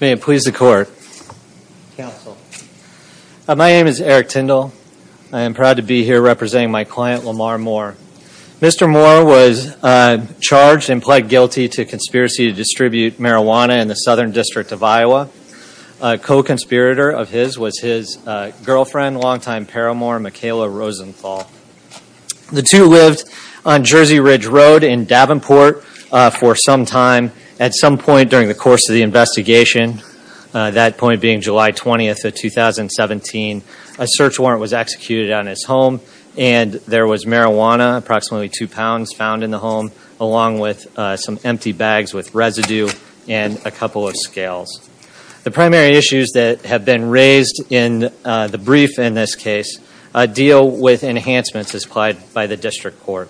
My name is Eric Tindall. I am proud to be here representing my client, Lamaar Moore. Mr. Moore was charged and pled guilty to conspiracy to distribute marijuana in the Southern District of Iowa. A co-conspirator of his was his girlfriend, longtime paramour, Mikayla Rosenthal. The two lived on Jersey Ridge Road in Davenport for some time. At some point during the course of the investigation, that point being July 20th of 2017, a search warrant was executed on his home and there was marijuana, approximately two pounds, found in the home along with some empty bags with residue and a couple of scales. The primary issues that have been raised in the brief in this case deal with enhancements applied by the District Court.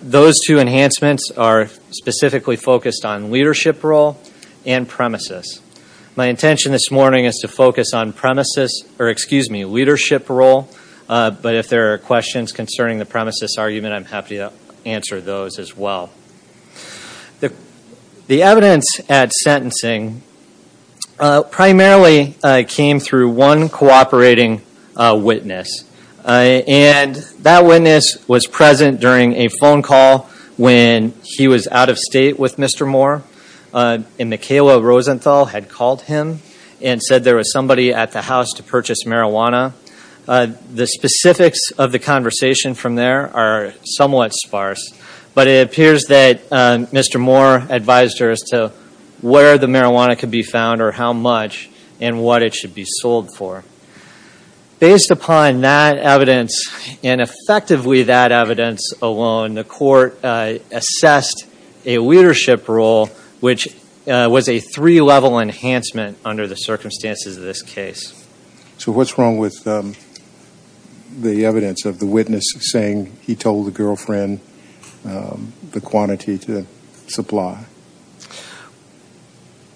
Those two enhancements are specifically focused on leadership role and premises. My intention this morning is to focus on premises, or excuse me, leadership role, but if there are questions concerning the premises argument, I'm happy to answer those as well. The evidence at sentencing primarily came through one cooperating witness and that witness was present during a phone call when he was out of state with Mr. Moore and Mikayla Rosenthal had called him and said there was somebody at the house to purchase marijuana. The specifics of the conversation from there are somewhat sparse, but it appears that Mr. Moore advised her as to where the marijuana could be found or how much and what it should be sold for. Based upon that evidence and effectively that evidence alone, the court assessed a leadership role which was a three-level enhancement under the circumstances of this case. So what's wrong with the evidence of the witness saying he told the girlfriend the quantity to supply?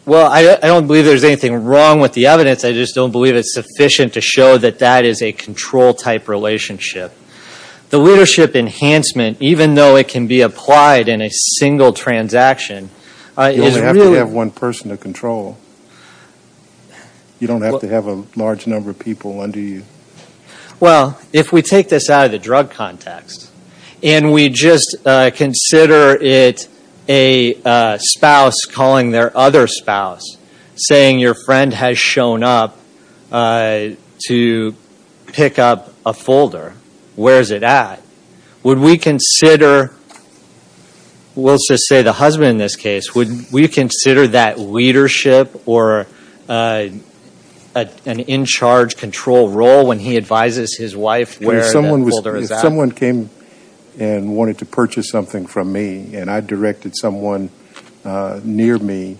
Well, I don't believe there's anything wrong with the evidence. I just don't believe it's sufficient to show that that is a control-type relationship. The leadership enhancement, even though it can be applied in a single transaction, is really... You don't have to have a large number of people under you. Well, if we take this out of the drug context and we just consider it a spouse calling their other spouse, saying your friend has shown up to pick up a folder, where is it at? Would we consider, we'll just say the husband in this case, would we consider that leadership or an in-charge control role when he advises his wife where that folder is at? If someone came and wanted to purchase something from me and I directed someone near me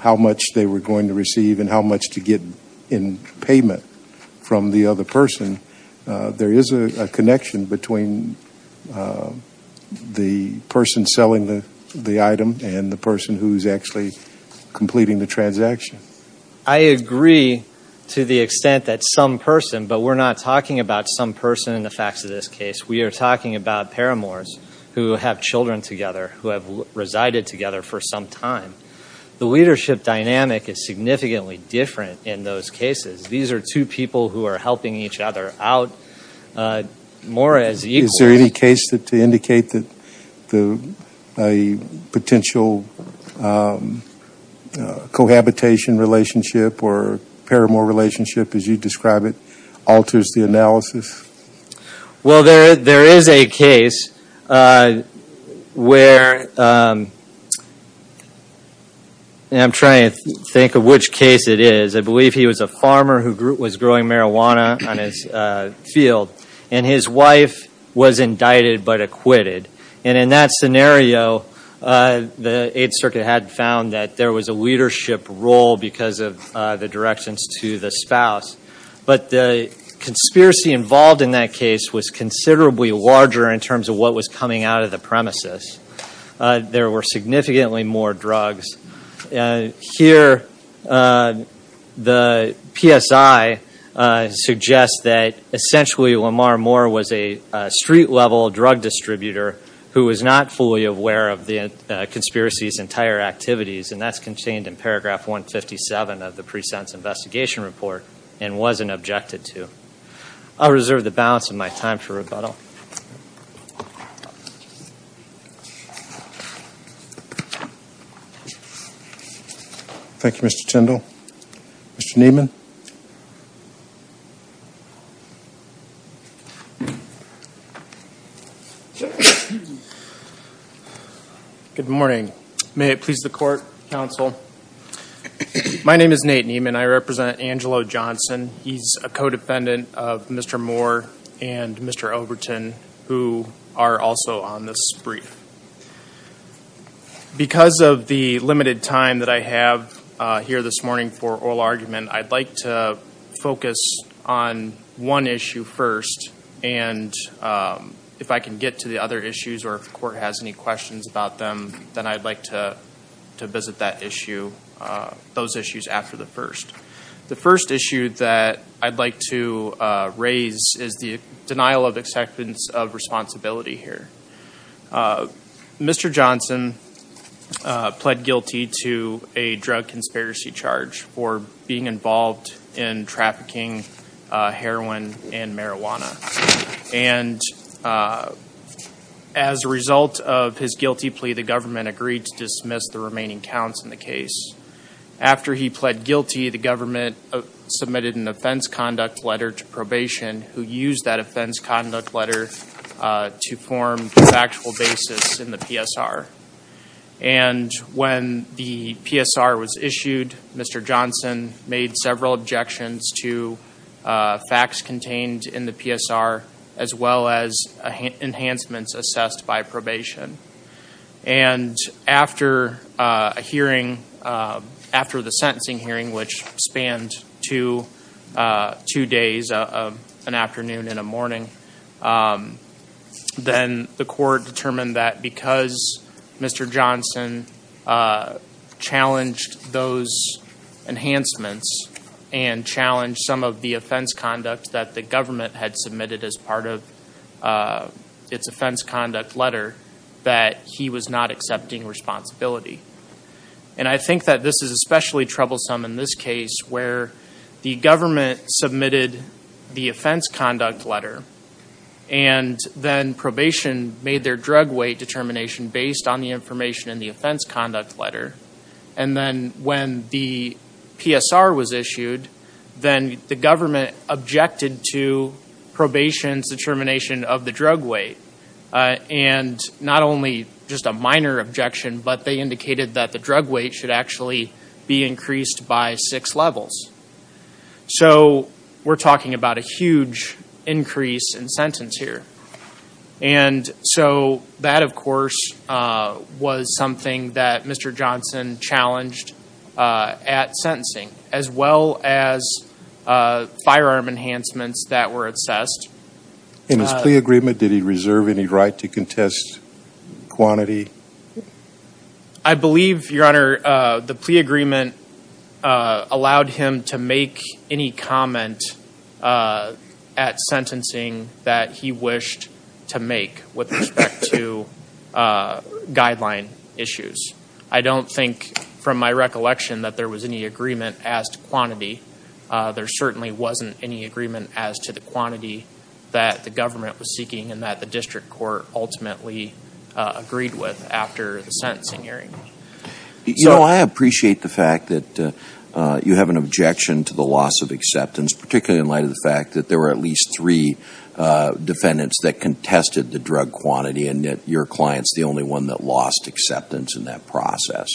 how much they were going to receive and how much to get in payment from the other person, there is a connection between the person selling the item and the person who's actually completing the transaction. I agree to the extent that some person, but we're not talking about some person in the facts of this case. We are talking about paramours who have children together, who have resided together for some time. The leadership dynamic is significantly different in those cases. These are two people who are helping each other out more as equals. Is there any case to indicate that a potential cohabitation relationship or paramour relationship, as you describe it, alters the analysis? Well, there is a case where, and I'm trying to think of which case it is. I believe he was a farmer who was growing marijuana on his field and his wife was indicted but acquitted. In that scenario, the Eighth Circuit had found that there was a leadership role because of the directions to the spouse. But the conspiracy involved in that case was considerably larger in terms of what was coming out of the premises. There were significantly more drugs. Here, the PSI suggests that essentially Lamar Moore was a street-level drug distributor who was not fully aware of the conspiracy's entire activities and that's contained in paragraph 157 of the pre-sentence investigation report and wasn't objected to. I'll reserve the balance of my time for rebuttal. Thank you, Mr. Tindall. Mr. Neiman? Good morning. May it please the court, counsel. My name is Nate Neiman. I represent Angelo Johnson. He's a co-defendant of Mr. Moore and Mr. Overton, who are also on this brief. Because of the limited time that I have here this morning for oral argument, I'd like to focus on one issue first and if I can get to the other issues or if the court has any questions about them, then I'd like to visit those issues after the first. The first issue that I'd like to raise is the denial of acceptance of responsibility here. Mr. Johnson pled guilty to a drug conspiracy charge for being involved in trafficking heroin and marijuana. And as a result of his guilty plea, the government agreed to dismiss the remaining counts in the case. After he pled guilty, the government submitted an offense conduct letter to probation who used that offense conduct letter to form a factual basis in the PSR. And when the PSR was issued, Mr. Johnson made several objections to facts contained in the PSR as well as enhancements assessed by probation. And after a hearing, after the sentencing hearing, which spanned two days, an afternoon and a morning, then the court determined that because Mr. Johnson challenged those enhancements and challenged some of the offense conduct that the government had submitted as part of its offense conduct letter, that he was not accepting responsibility. And I think that this is especially troublesome in this case where the government submitted the offense conduct letter and then probation made their drug weight determination based on the information in the offense conduct letter. And then when the PSR was issued, then the government objected to probation's determination of the drug weight. And not only just a minor objection, but they indicated that the drug weight should actually be increased by six levels. So we're talking about a huge increase in sentence here. And so that, of course, was something that Mr. Johnson challenged at sentencing, as well as firearm enhancements that were assessed. In his plea agreement, did he reserve any right to contest quantity? I believe, Your Honor, the plea agreement allowed him to make any comment at sentencing that he wished to make with respect to guideline issues. I don't think from my recollection that there was any agreement as to quantity. There certainly wasn't any agreement as to the quantity that the government was seeking and that the district court ultimately agreed with after the sentencing hearing. You know, I appreciate the fact that you have an objection to the loss of acceptance, particularly in light of the fact that there were at least three defendants that contested the drug quantity and that your client's the only one that lost acceptance in that process.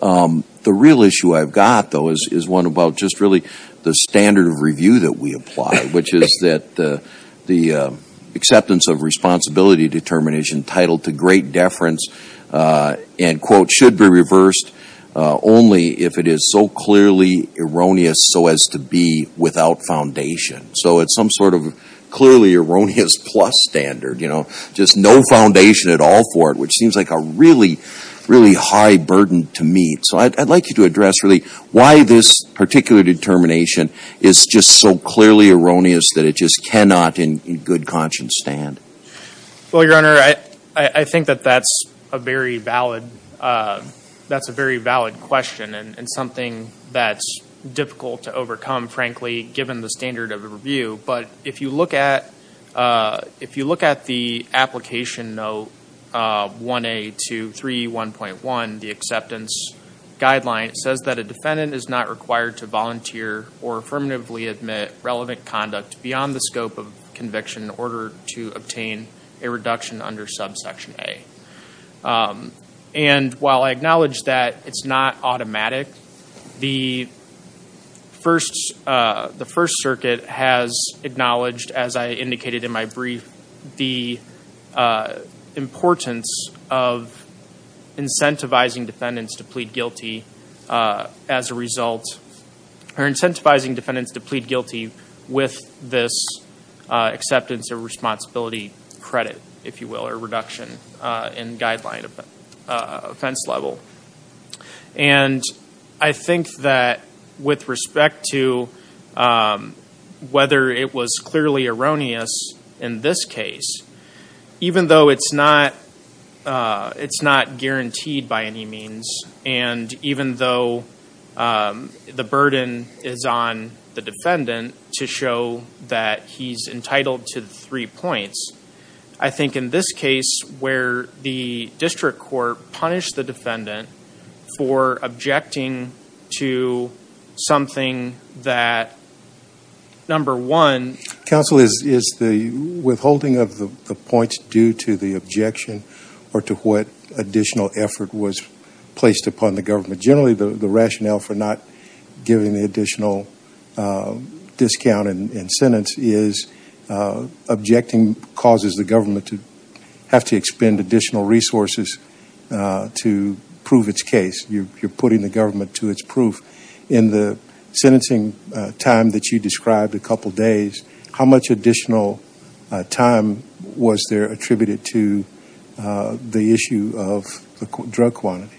The real issue I've got, though, is one about just really the standard of review that we apply, which is that the acceptance of responsibility determination titled to great deference and quote should be reversed only if it is so clearly erroneous so as to be without foundation. So it's some sort of clearly erroneous plus standard, you know, just no foundation at all for it, which seems like a really, really high burden to meet. So I'd like you to address really why this particular determination is just so clearly erroneous that it just cannot in good conscience stand. Well, Your Honor, I think that that's a very valid question and something that's difficult to overcome, frankly, given the standard of review. But if you look at the application note 1A231.1, the acceptance guideline, it says that a defendant is not required to volunteer or affirmatively admit relevant conduct beyond the scope of conviction in order to obtain a reduction under subsection A. And while I acknowledge that it's not automatic, the First Circuit has acknowledged, as I indicated in my brief, the importance of incentivizing defendants to plead guilty as a result or incentivizing defendants to plead guilty with this acceptance of responsibility credit, if you will, or reduction in guideline offense level. And I think that with respect to whether it was clearly erroneous in this case, even though it's not guaranteed by any means and even though the burden is on the defendant to show that he's entitled to the three points, I think in this case where the district court punished the defendant for objecting to something that, number one... Counsel, is the withholding of the points due to the objection or to what additional effort was placed upon the government? Generally, the rationale for not giving the additional discount in sentence is objecting causes the government to have to expend additional resources to prove its case. You're putting the government to its proof. In the sentencing time that you described, a couple of days, how much additional time was there attributed to the issue of the drug quantity?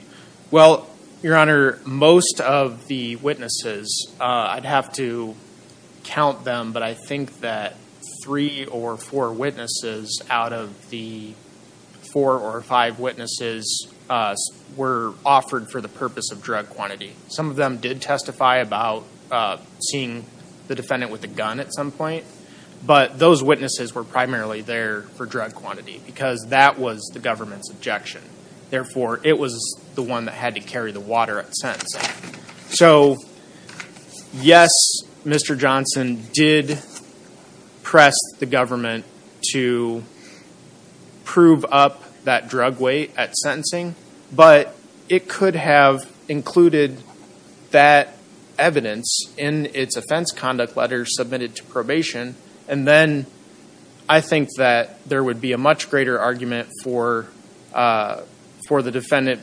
Well, Your Honor, most of the witnesses, I'd have to count them, but I think that three or four witnesses out of the four or five witnesses were offered for the purpose of drug quantity. Some of them did testify about seeing the defendant with a gun at some point, but those witnesses were primarily there for drug quantity because that was the government's objection. Therefore, it was the one that had to carry the water at sentencing. So, yes, Mr. Johnson did press the government to prove up that drug weight at sentencing, but it could have included that evidence in its offense conduct letters submitted to probation. I think that there would be a much greater argument for the defendant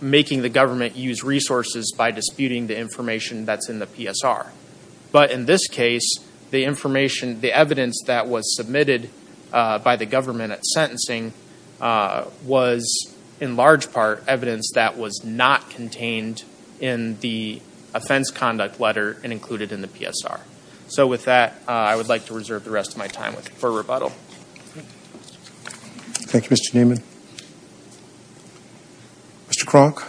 making the government use resources by disputing the information that's in the PSR. But in this case, the evidence that was submitted by the government at sentencing was in large part evidence that was not contained in the offense conduct letter and included in the PSR. So with that, I would like to reserve the rest of my time for rebuttal. Thank you, Mr. Newman. Mr. Kronk?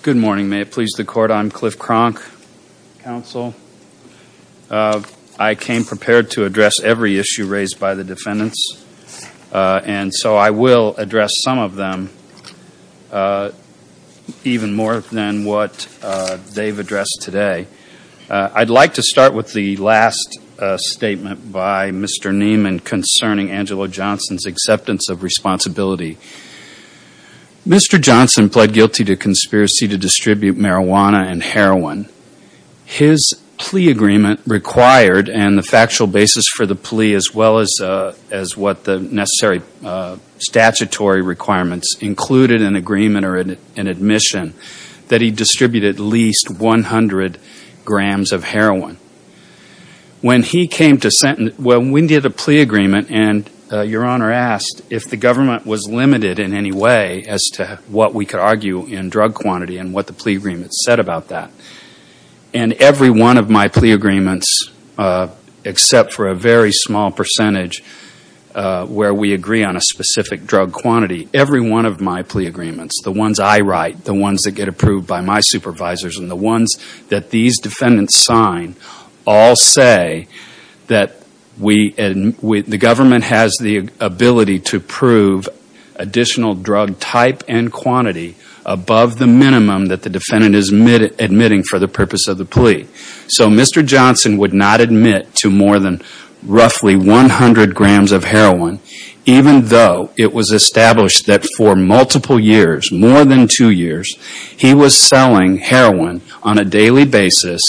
Good morning. May it please the Court. I'm Cliff Kronk, counsel. I came prepared to address every issue raised by the defendants, and so I will address some of them even more than what they've addressed today. I'd like to start with the last statement by Mr. Newman concerning Angelo Johnson's acceptance of responsibility. Mr. Johnson pled guilty to conspiracy to distribute marijuana and heroin. His plea agreement required, and the factual basis for the plea, as well as what the necessary statutory requirements included in agreement or in admission, that he distribute at least 100 grams of heroin. When he came to sentence, when we did a plea agreement, and Your Honor asked if the government was limited in any way as to what we could argue in drug quantity and what the plea agreement said about that, and every one of my plea agreements, except for a very small percentage where we agree on a specific drug quantity, every one of my plea agreements, the ones I write, the ones that get approved by my supervisors, and the ones that these defendants sign, all say that the government has the ability to approve additional drug type and quantity above the minimum that the defendant is admitting for the purpose of the plea. So Mr. Johnson would not admit to more than roughly 100 grams of heroin, even though it was established that for multiple years, more than two years, he was selling heroin on a daily basis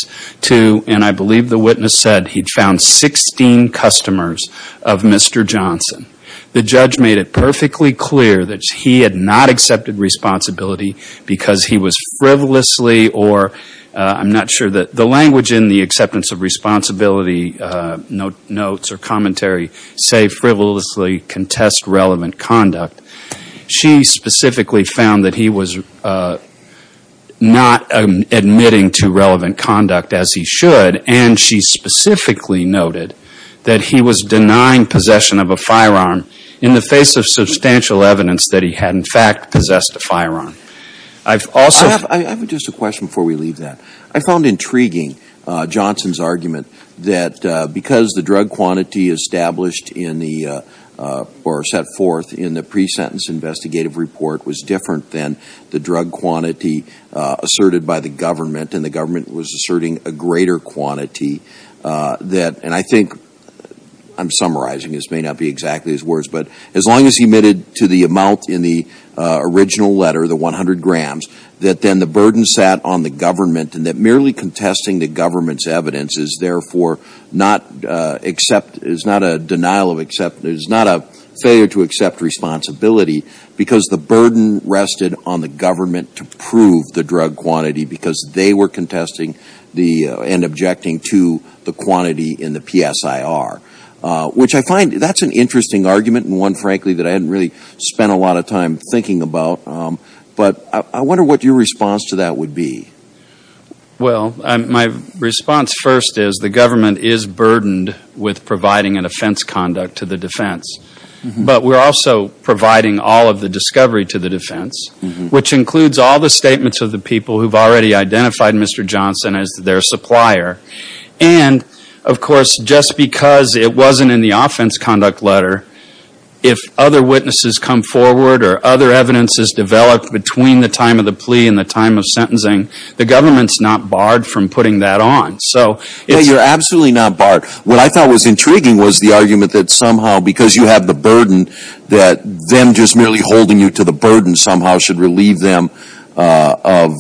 to, and I believe the witness said he found 16 customers of Mr. Johnson. The judge made it perfectly clear that he had not accepted responsibility because he was frivolously, or I'm not sure that the language in the acceptance of responsibility notes or commentary, say frivolously contest relevant conduct. She specifically found that he was not admitting to relevant conduct as he should, and she specifically noted that he was denying possession of a firearm in the face of substantial evidence that he had in fact possessed a firearm. I've also- I have just a question before we leave that. I found intriguing Johnson's argument that because the drug quantity established in the, or set forth in the pre-sentence investigative report was different than the drug quantity asserted by the government, and the government was asserting a greater quantity that, and I think I'm summarizing, this may not be exactly his words, but as long as he admitted to the amount in the original letter, the 100 grams, that then the burden sat on the government, and that merely contesting the government's evidence is therefore not accept- is not a denial of accept- is not a failure to accept responsibility because the burden rested on the government to prove the drug quantity because they were contesting the- and objecting to the quantity in the PSIR, which I find- that's an interesting argument, and one frankly that I hadn't really spent a lot of time thinking about, but I wonder what your response to that would be. Well, my response first is the government is burdened with providing an offense conduct to the defense, but we're also providing all of the discovery to the defense, which includes all the statements of the people who've already identified Mr. Johnson as their supplier, and of course just because it wasn't in the offense conduct letter, if other witnesses come forward or other evidence is developed between the time of the plea and the time of sentencing, the government's not barred from putting that on. Yeah, you're absolutely not barred. What I thought was intriguing was the argument that somehow because you have the burden, that them just merely holding you to the burden somehow should relieve them of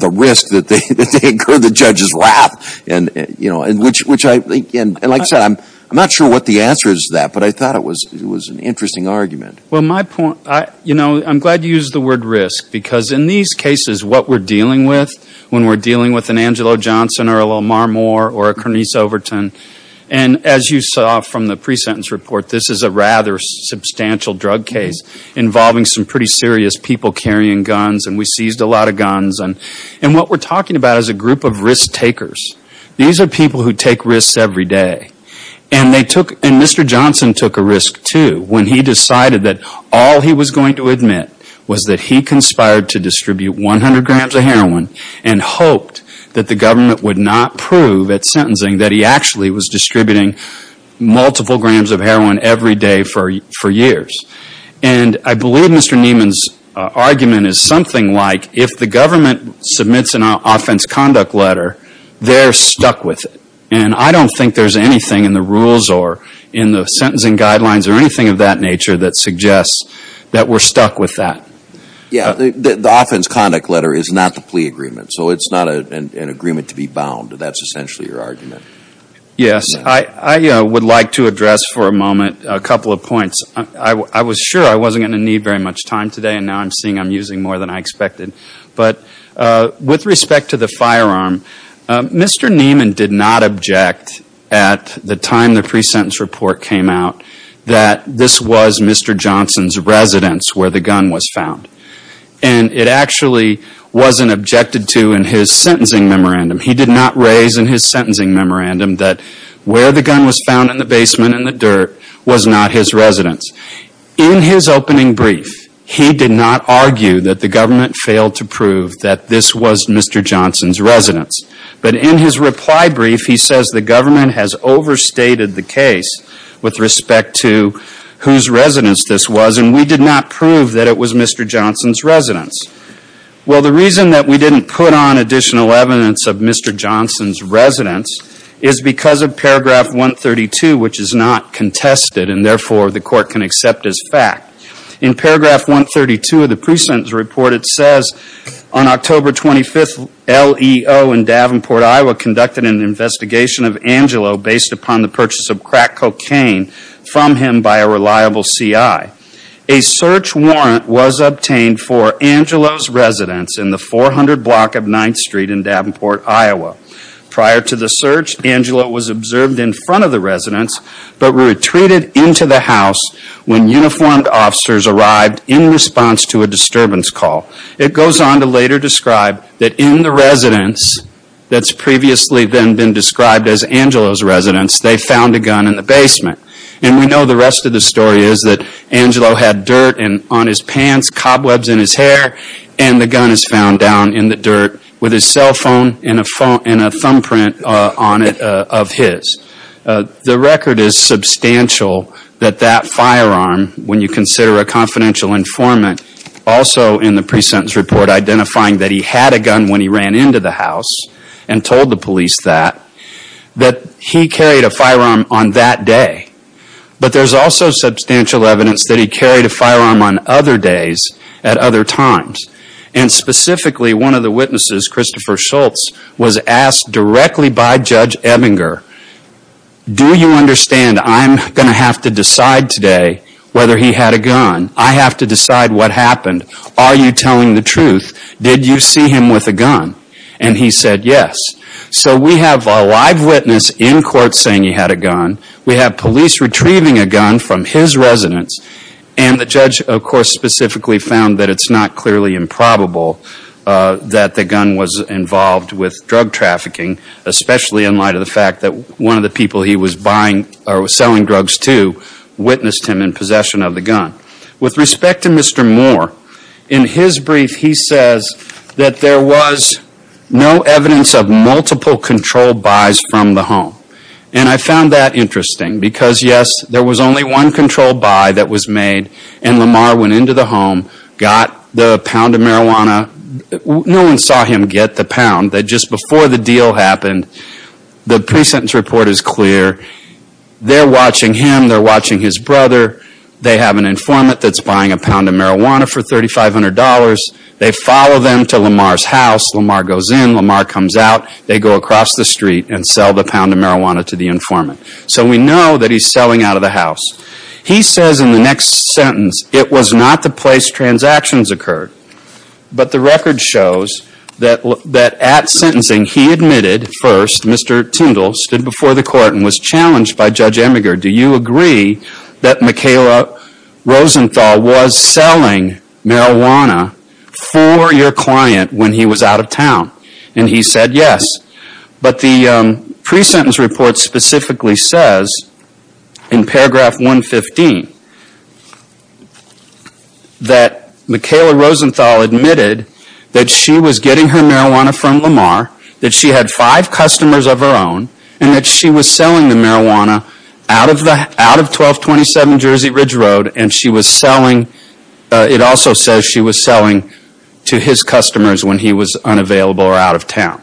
the risk that they incur the judge's wrath, which I think- and like I said, I'm not sure what the answer is to that, but I thought it was an interesting argument. Well, my point- you know, I'm glad you used the word risk because in these cases, what we're dealing with when we're dealing with an Angelo Johnson or a Lamar Moore or a Cernise Overton, and as you saw from the pre-sentence report, this is a rather substantial drug case involving some pretty serious people carrying guns, and we seized a lot of guns. And what we're talking about is a group of risk takers. These are people who take risks every day. And they took- and Mr. Johnson took a risk, too, when he decided that all he was going to admit was that he conspired to distribute 100 grams of heroin and hoped that the government would not prove at sentencing that he actually was distributing multiple grams of heroin every day for years. And I believe Mr. Nieman's argument is something like if the government submits an offense conduct letter, they're stuck with it. And I don't think there's anything in the rules or in the sentencing guidelines or anything of that nature that suggests that we're stuck with that. The offense conduct letter is not the plea agreement, so it's not an agreement to be bound. That's essentially your argument. Yes, I would like to address for a moment a couple of points. I was sure I wasn't going to need very much time today, and now I'm seeing I'm using more than I expected. But with respect to the firearm, Mr. Nieman did not object at the time the pre-sentence report came out that this was Mr. Johnson's residence where the gun was found. And it actually wasn't objected to in his sentencing memorandum. He did not raise in his sentencing memorandum that where the gun was found in the basement in the dirt was not his residence. In his opening brief, he did not argue that the government failed to prove that this was Mr. Johnson's residence. But in his reply brief, he says the government has overstated the case with respect to whose residence this was, and we did not prove that it was Mr. Johnson's residence. Well, the reason that we didn't put on additional evidence of Mr. Johnson's residence is because of paragraph 132, which is not contested, and therefore the court can accept as fact. In paragraph 132 of the pre-sentence report, it says, on October 25th, LEO in Davenport, Iowa conducted an investigation of Angelo based upon the purchase of crack cocaine from him by a reliable CI. A search warrant was obtained for Angelo's residence in the 400 block of 9th Street in Davenport, Iowa. Prior to the search, Angelo was observed in front of the residence, but retreated into the house when uniformed officers arrived in response to a disturbance call. It goes on to later describe that in the residence that's previously been described as Angelo's residence, they found a gun in the basement. And we know the rest of the story is that Angelo had dirt on his pants, cobwebs in his hair, and the gun is found down in the dirt with his cell phone and a thumb print on it of his. The record is substantial that that firearm, when you consider a confidential informant, also in the pre-sentence report identifying that he had a gun when he ran into the house and told the police that, that he carried a firearm on that day. But there's also substantial evidence that he carried a firearm on other days at other times. And specifically, one of the witnesses, Christopher Schultz, was asked directly by Judge Ebinger, do you understand I'm going to have to decide today whether he had a gun? I have to decide what happened. Are you telling the truth? Did you see him with a gun? And he said yes. So we have a live witness in court saying he had a gun. We have police retrieving a gun from his residence. And the judge, of course, specifically found that it's not clearly improbable that the gun was involved with drug trafficking, especially in light of the fact that one of the people he was buying or selling drugs to witnessed him in possession of the gun. With respect to Mr. Moore, in his brief he says that there was no evidence of multiple controlled buys from the home. And I found that interesting because, yes, there was only one controlled buy that was made, and Lamar went into the home, got the pound of marijuana. No one saw him get the pound. Just before the deal happened, the pre-sentence report is clear. They're watching him. They're watching his brother. They have an informant that's buying a pound of marijuana for $3,500. They follow them to Lamar's house. Lamar goes in. Lamar comes out. They go across the street and sell the pound of marijuana to the informant. So we know that he's selling out of the house. He says in the next sentence, it was not the place transactions occurred. But the record shows that at sentencing he admitted first, Mr. Tindall stood before the court and was challenged by Judge Emiger, do you agree that Michaela Rosenthal was selling marijuana for your client when he was out of town? And he said yes. But the pre-sentence report specifically says, in paragraph 115, that Michaela Rosenthal admitted that she was getting her marijuana from Lamar, that she had five customers of her own, and that she was selling the marijuana out of 1227 Jersey Ridge Road, and it also says she was selling to his customers when he was unavailable or out of town.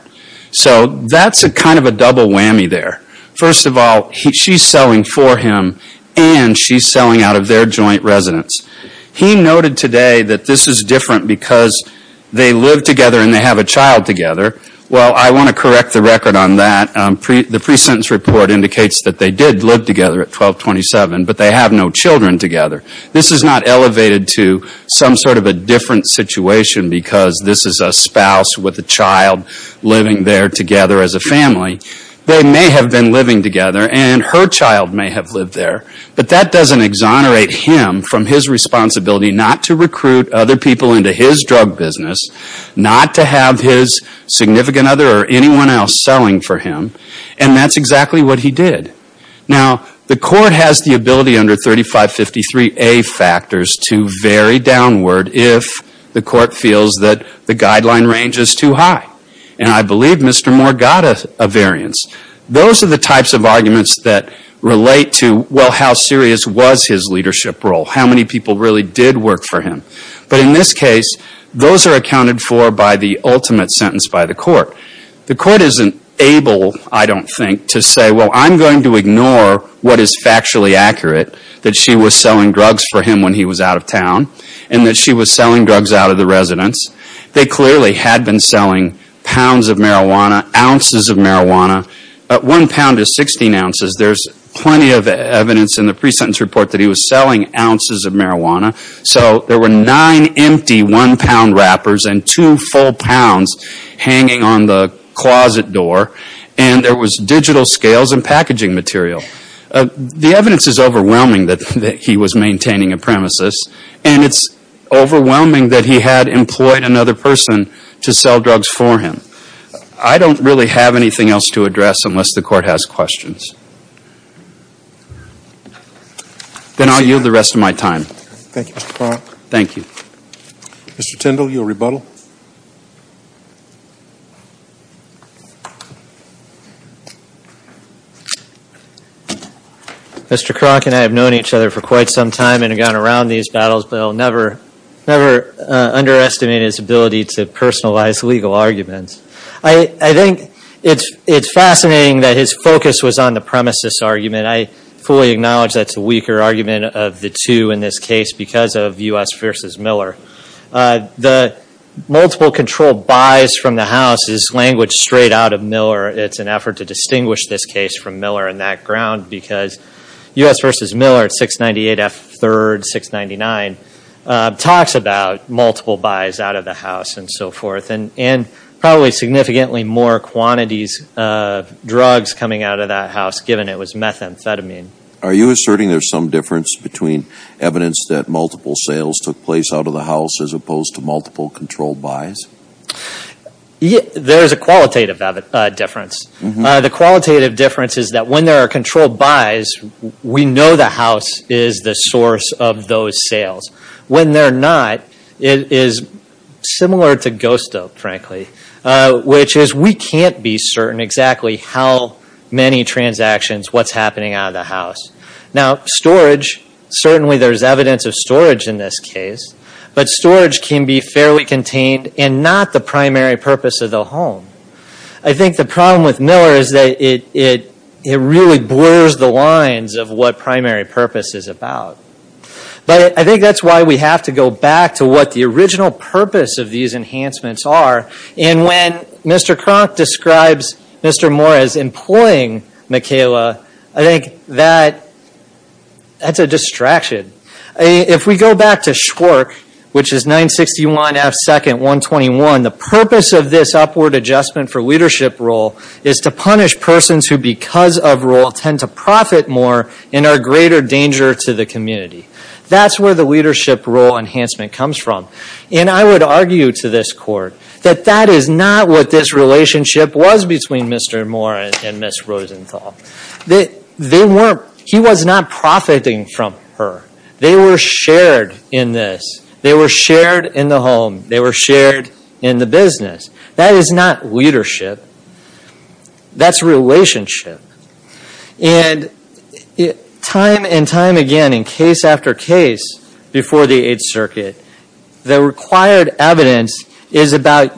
So that's kind of a double whammy there. First of all, she's selling for him and she's selling out of their joint residence. He noted today that this is different because they live together and they have a child together. Well, I want to correct the record on that. The pre-sentence report indicates that they did live together at 1227, but they have no children together. This is not elevated to some sort of a different situation because this is a spouse with a child living there together as a family. They may have been living together and her child may have lived there, but that doesn't exonerate him from his responsibility not to recruit other people into his drug business, not to have his significant other or anyone else selling for him. And that's exactly what he did. Now, the court has the ability under 3553A factors to vary downward if the court feels that the guideline range is too high. And I believe Mr. Moore got a variance. Those are the types of arguments that relate to, well, how serious was his leadership role? How many people really did work for him? But in this case, those are accounted for by the ultimate sentence by the court. The court isn't able, I don't think, to say, well, I'm going to ignore what is factually accurate, that she was selling drugs for him when he was out of town and that she was selling drugs out of the residence. They clearly had been selling pounds of marijuana, ounces of marijuana. One pound is 16 ounces. There's plenty of evidence in the pre-sentence report that he was selling ounces of marijuana. So there were nine empty one-pound wrappers and two full pounds hanging on the closet door, and there was digital scales and packaging material. The evidence is overwhelming that he was maintaining a premises, and it's overwhelming that he had employed another person to sell drugs for him. I don't really have anything else to address unless the court has questions. Then I'll yield the rest of my time. Thank you, Mr. Kroc. Thank you. Mr. Tindall, your rebuttal. Mr. Kroc and I have known each other for quite some time and have gone around these battles, but I'll never underestimate his ability to personalize legal arguments. I think it's fascinating that his focus was on the premises argument. I fully acknowledge that's a weaker argument of the two in this case because of U.S. v. Miller. The multiple control buys from the house is language straight out of Miller. It's an effort to distinguish this case from Miller in that ground because U.S. v. Miller at 698 F. 3rd 699 talks about multiple buys out of the house and so forth and probably significantly more quantities of drugs coming out of that house given it was methamphetamine. Are you asserting there's some difference between evidence that multiple sales took place out of the house as opposed to multiple control buys? There's a qualitative difference. The qualitative difference is that when there are control buys, we know the house is the source of those sales. When they're not, it is similar to ghost dope, frankly, which is we can't be certain exactly how many transactions, what's happening out of the house. Now storage, certainly there's evidence of storage in this case, but storage can be fairly contained and not the primary purpose of the home. I think the problem with Miller is that it really blurs the lines of what primary purpose is about. But I think that's why we have to go back to what the original purpose of these enhancements are. And when Mr. Kronk describes Mr. Moore as employing McKayla, I think that's a distraction. If we go back to Schwark, which is 961 F. 2nd 121, the purpose of this upward adjustment for leadership role is to punish persons who because of role tend to profit more and are a greater danger to the community. That's where the leadership role enhancement comes from. And I would argue to this court that that is not what this relationship was between Mr. Moore and Ms. Rosenthal. He was not profiting from her. They were shared in this. They were shared in the home. They were shared in the business. That is not leadership. That's relationship. And time and time again in case after case before the Eighth Circuit, the required evidence is about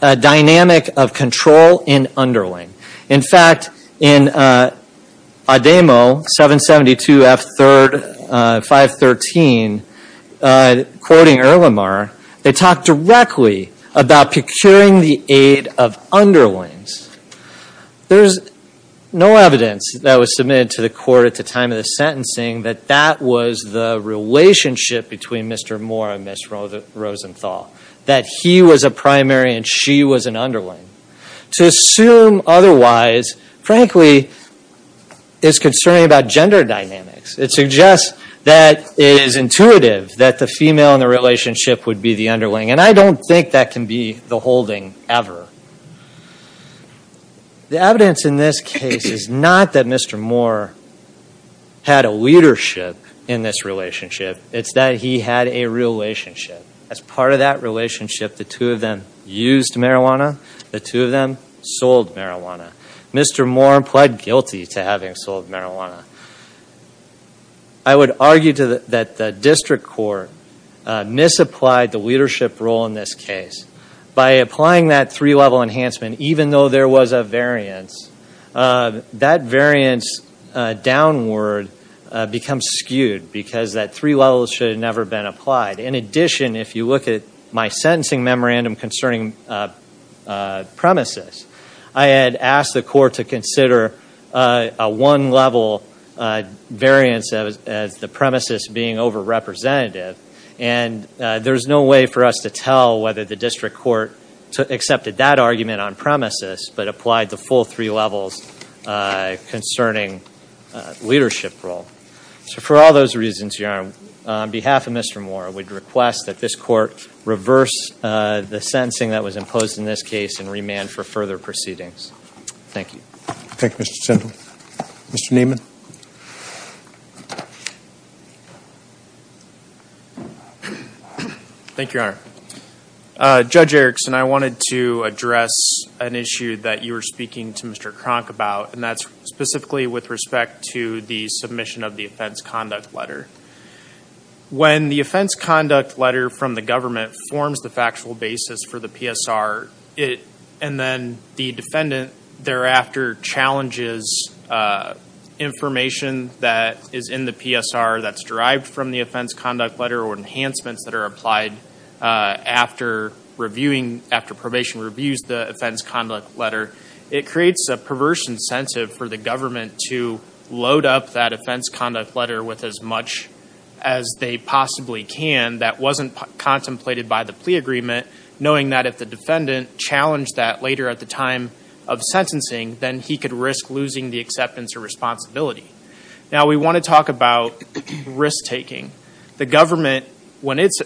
a dynamic of control in underling. In fact, in Ademo 772 F. 513, quoting Earlimar, they talk directly about procuring the aid of underlings. There's no evidence that was submitted to the court at the time of the sentencing that that was the relationship between Mr. Moore and Ms. Rosenthal, that he was a primary and she was an underling. To assume otherwise, frankly, is concerning about gender dynamics. It suggests that it is intuitive that the female in the relationship would be the underling, and I don't think that can be the holding ever. The evidence in this case is not that Mr. Moore had a leadership in this relationship. It's that he had a relationship. As part of that relationship, the two of them used marijuana. The two of them sold marijuana. Mr. Moore pled guilty to having sold marijuana. I would argue that the district court misapplied the leadership role in this case. By applying that three-level enhancement, even though there was a variance, that variance downward becomes skewed because that three levels should have never been applied. In addition, if you look at my sentencing memorandum concerning premises, I had asked the court to consider a one-level variance as the premises being over-representative, and there's no way for us to tell whether the district court accepted that argument on premises but applied the full three levels concerning leadership role. For all those reasons, Your Honor, on behalf of Mr. Moore, I would request that this court reverse the sentencing that was imposed in this case and remand for further proceedings. Thank you. Thank you, Mr. Shindle. Mr. Nieman. Thank you, Your Honor. Judge Erickson, I wanted to address an issue that you were speaking to Mr. Kronk about, and that's specifically with respect to the submission of the offense conduct letter. When the offense conduct letter from the government forms the factual basis for the PSR, and then the defendant thereafter challenges information that is in the PSR that's derived from the offense conduct letter or enhancements that are applied after probation reviews the offense conduct letter, it creates a perverse incentive for the government to load up that offense conduct letter with as much as they possibly can that wasn't contemplated by the plea agreement, knowing that if the defendant challenged that later at the time of sentencing, then he could risk losing the acceptance or responsibility. Now we want to talk about risk-taking. The government, when it's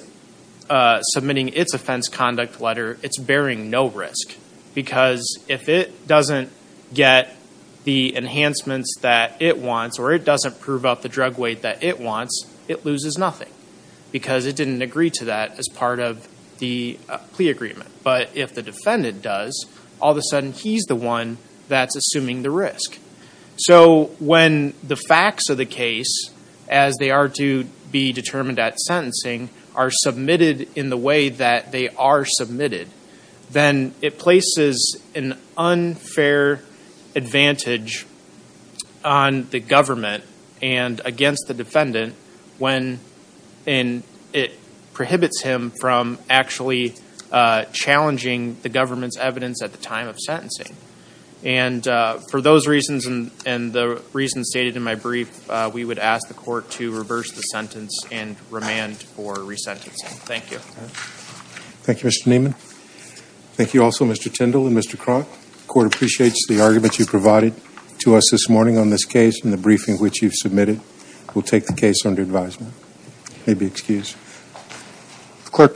submitting its offense conduct letter, it's bearing no risk because if it doesn't get the enhancements that it wants or it doesn't prove up the drug weight that it wants, it loses nothing because it didn't agree to that as part of the plea agreement. But if the defendant does, all of a sudden he's the one that's assuming the risk. So when the facts of the case, as they are to be determined at sentencing, are submitted in the way that they are submitted, then it places an unfair advantage on the government and against the defendant when it prohibits him from actually challenging the government's evidence at the time of sentencing. And for those reasons and the reasons stated in my brief, we would ask the court to reverse the sentence and remand for resentencing. Thank you. Thank you, Mr. Nieman. Thank you also, Mr. Tyndall and Mr. Kroc. The court appreciates the argument you provided to us this morning on this case and the briefing which you've submitted. We'll take the case under advisement. May be excused.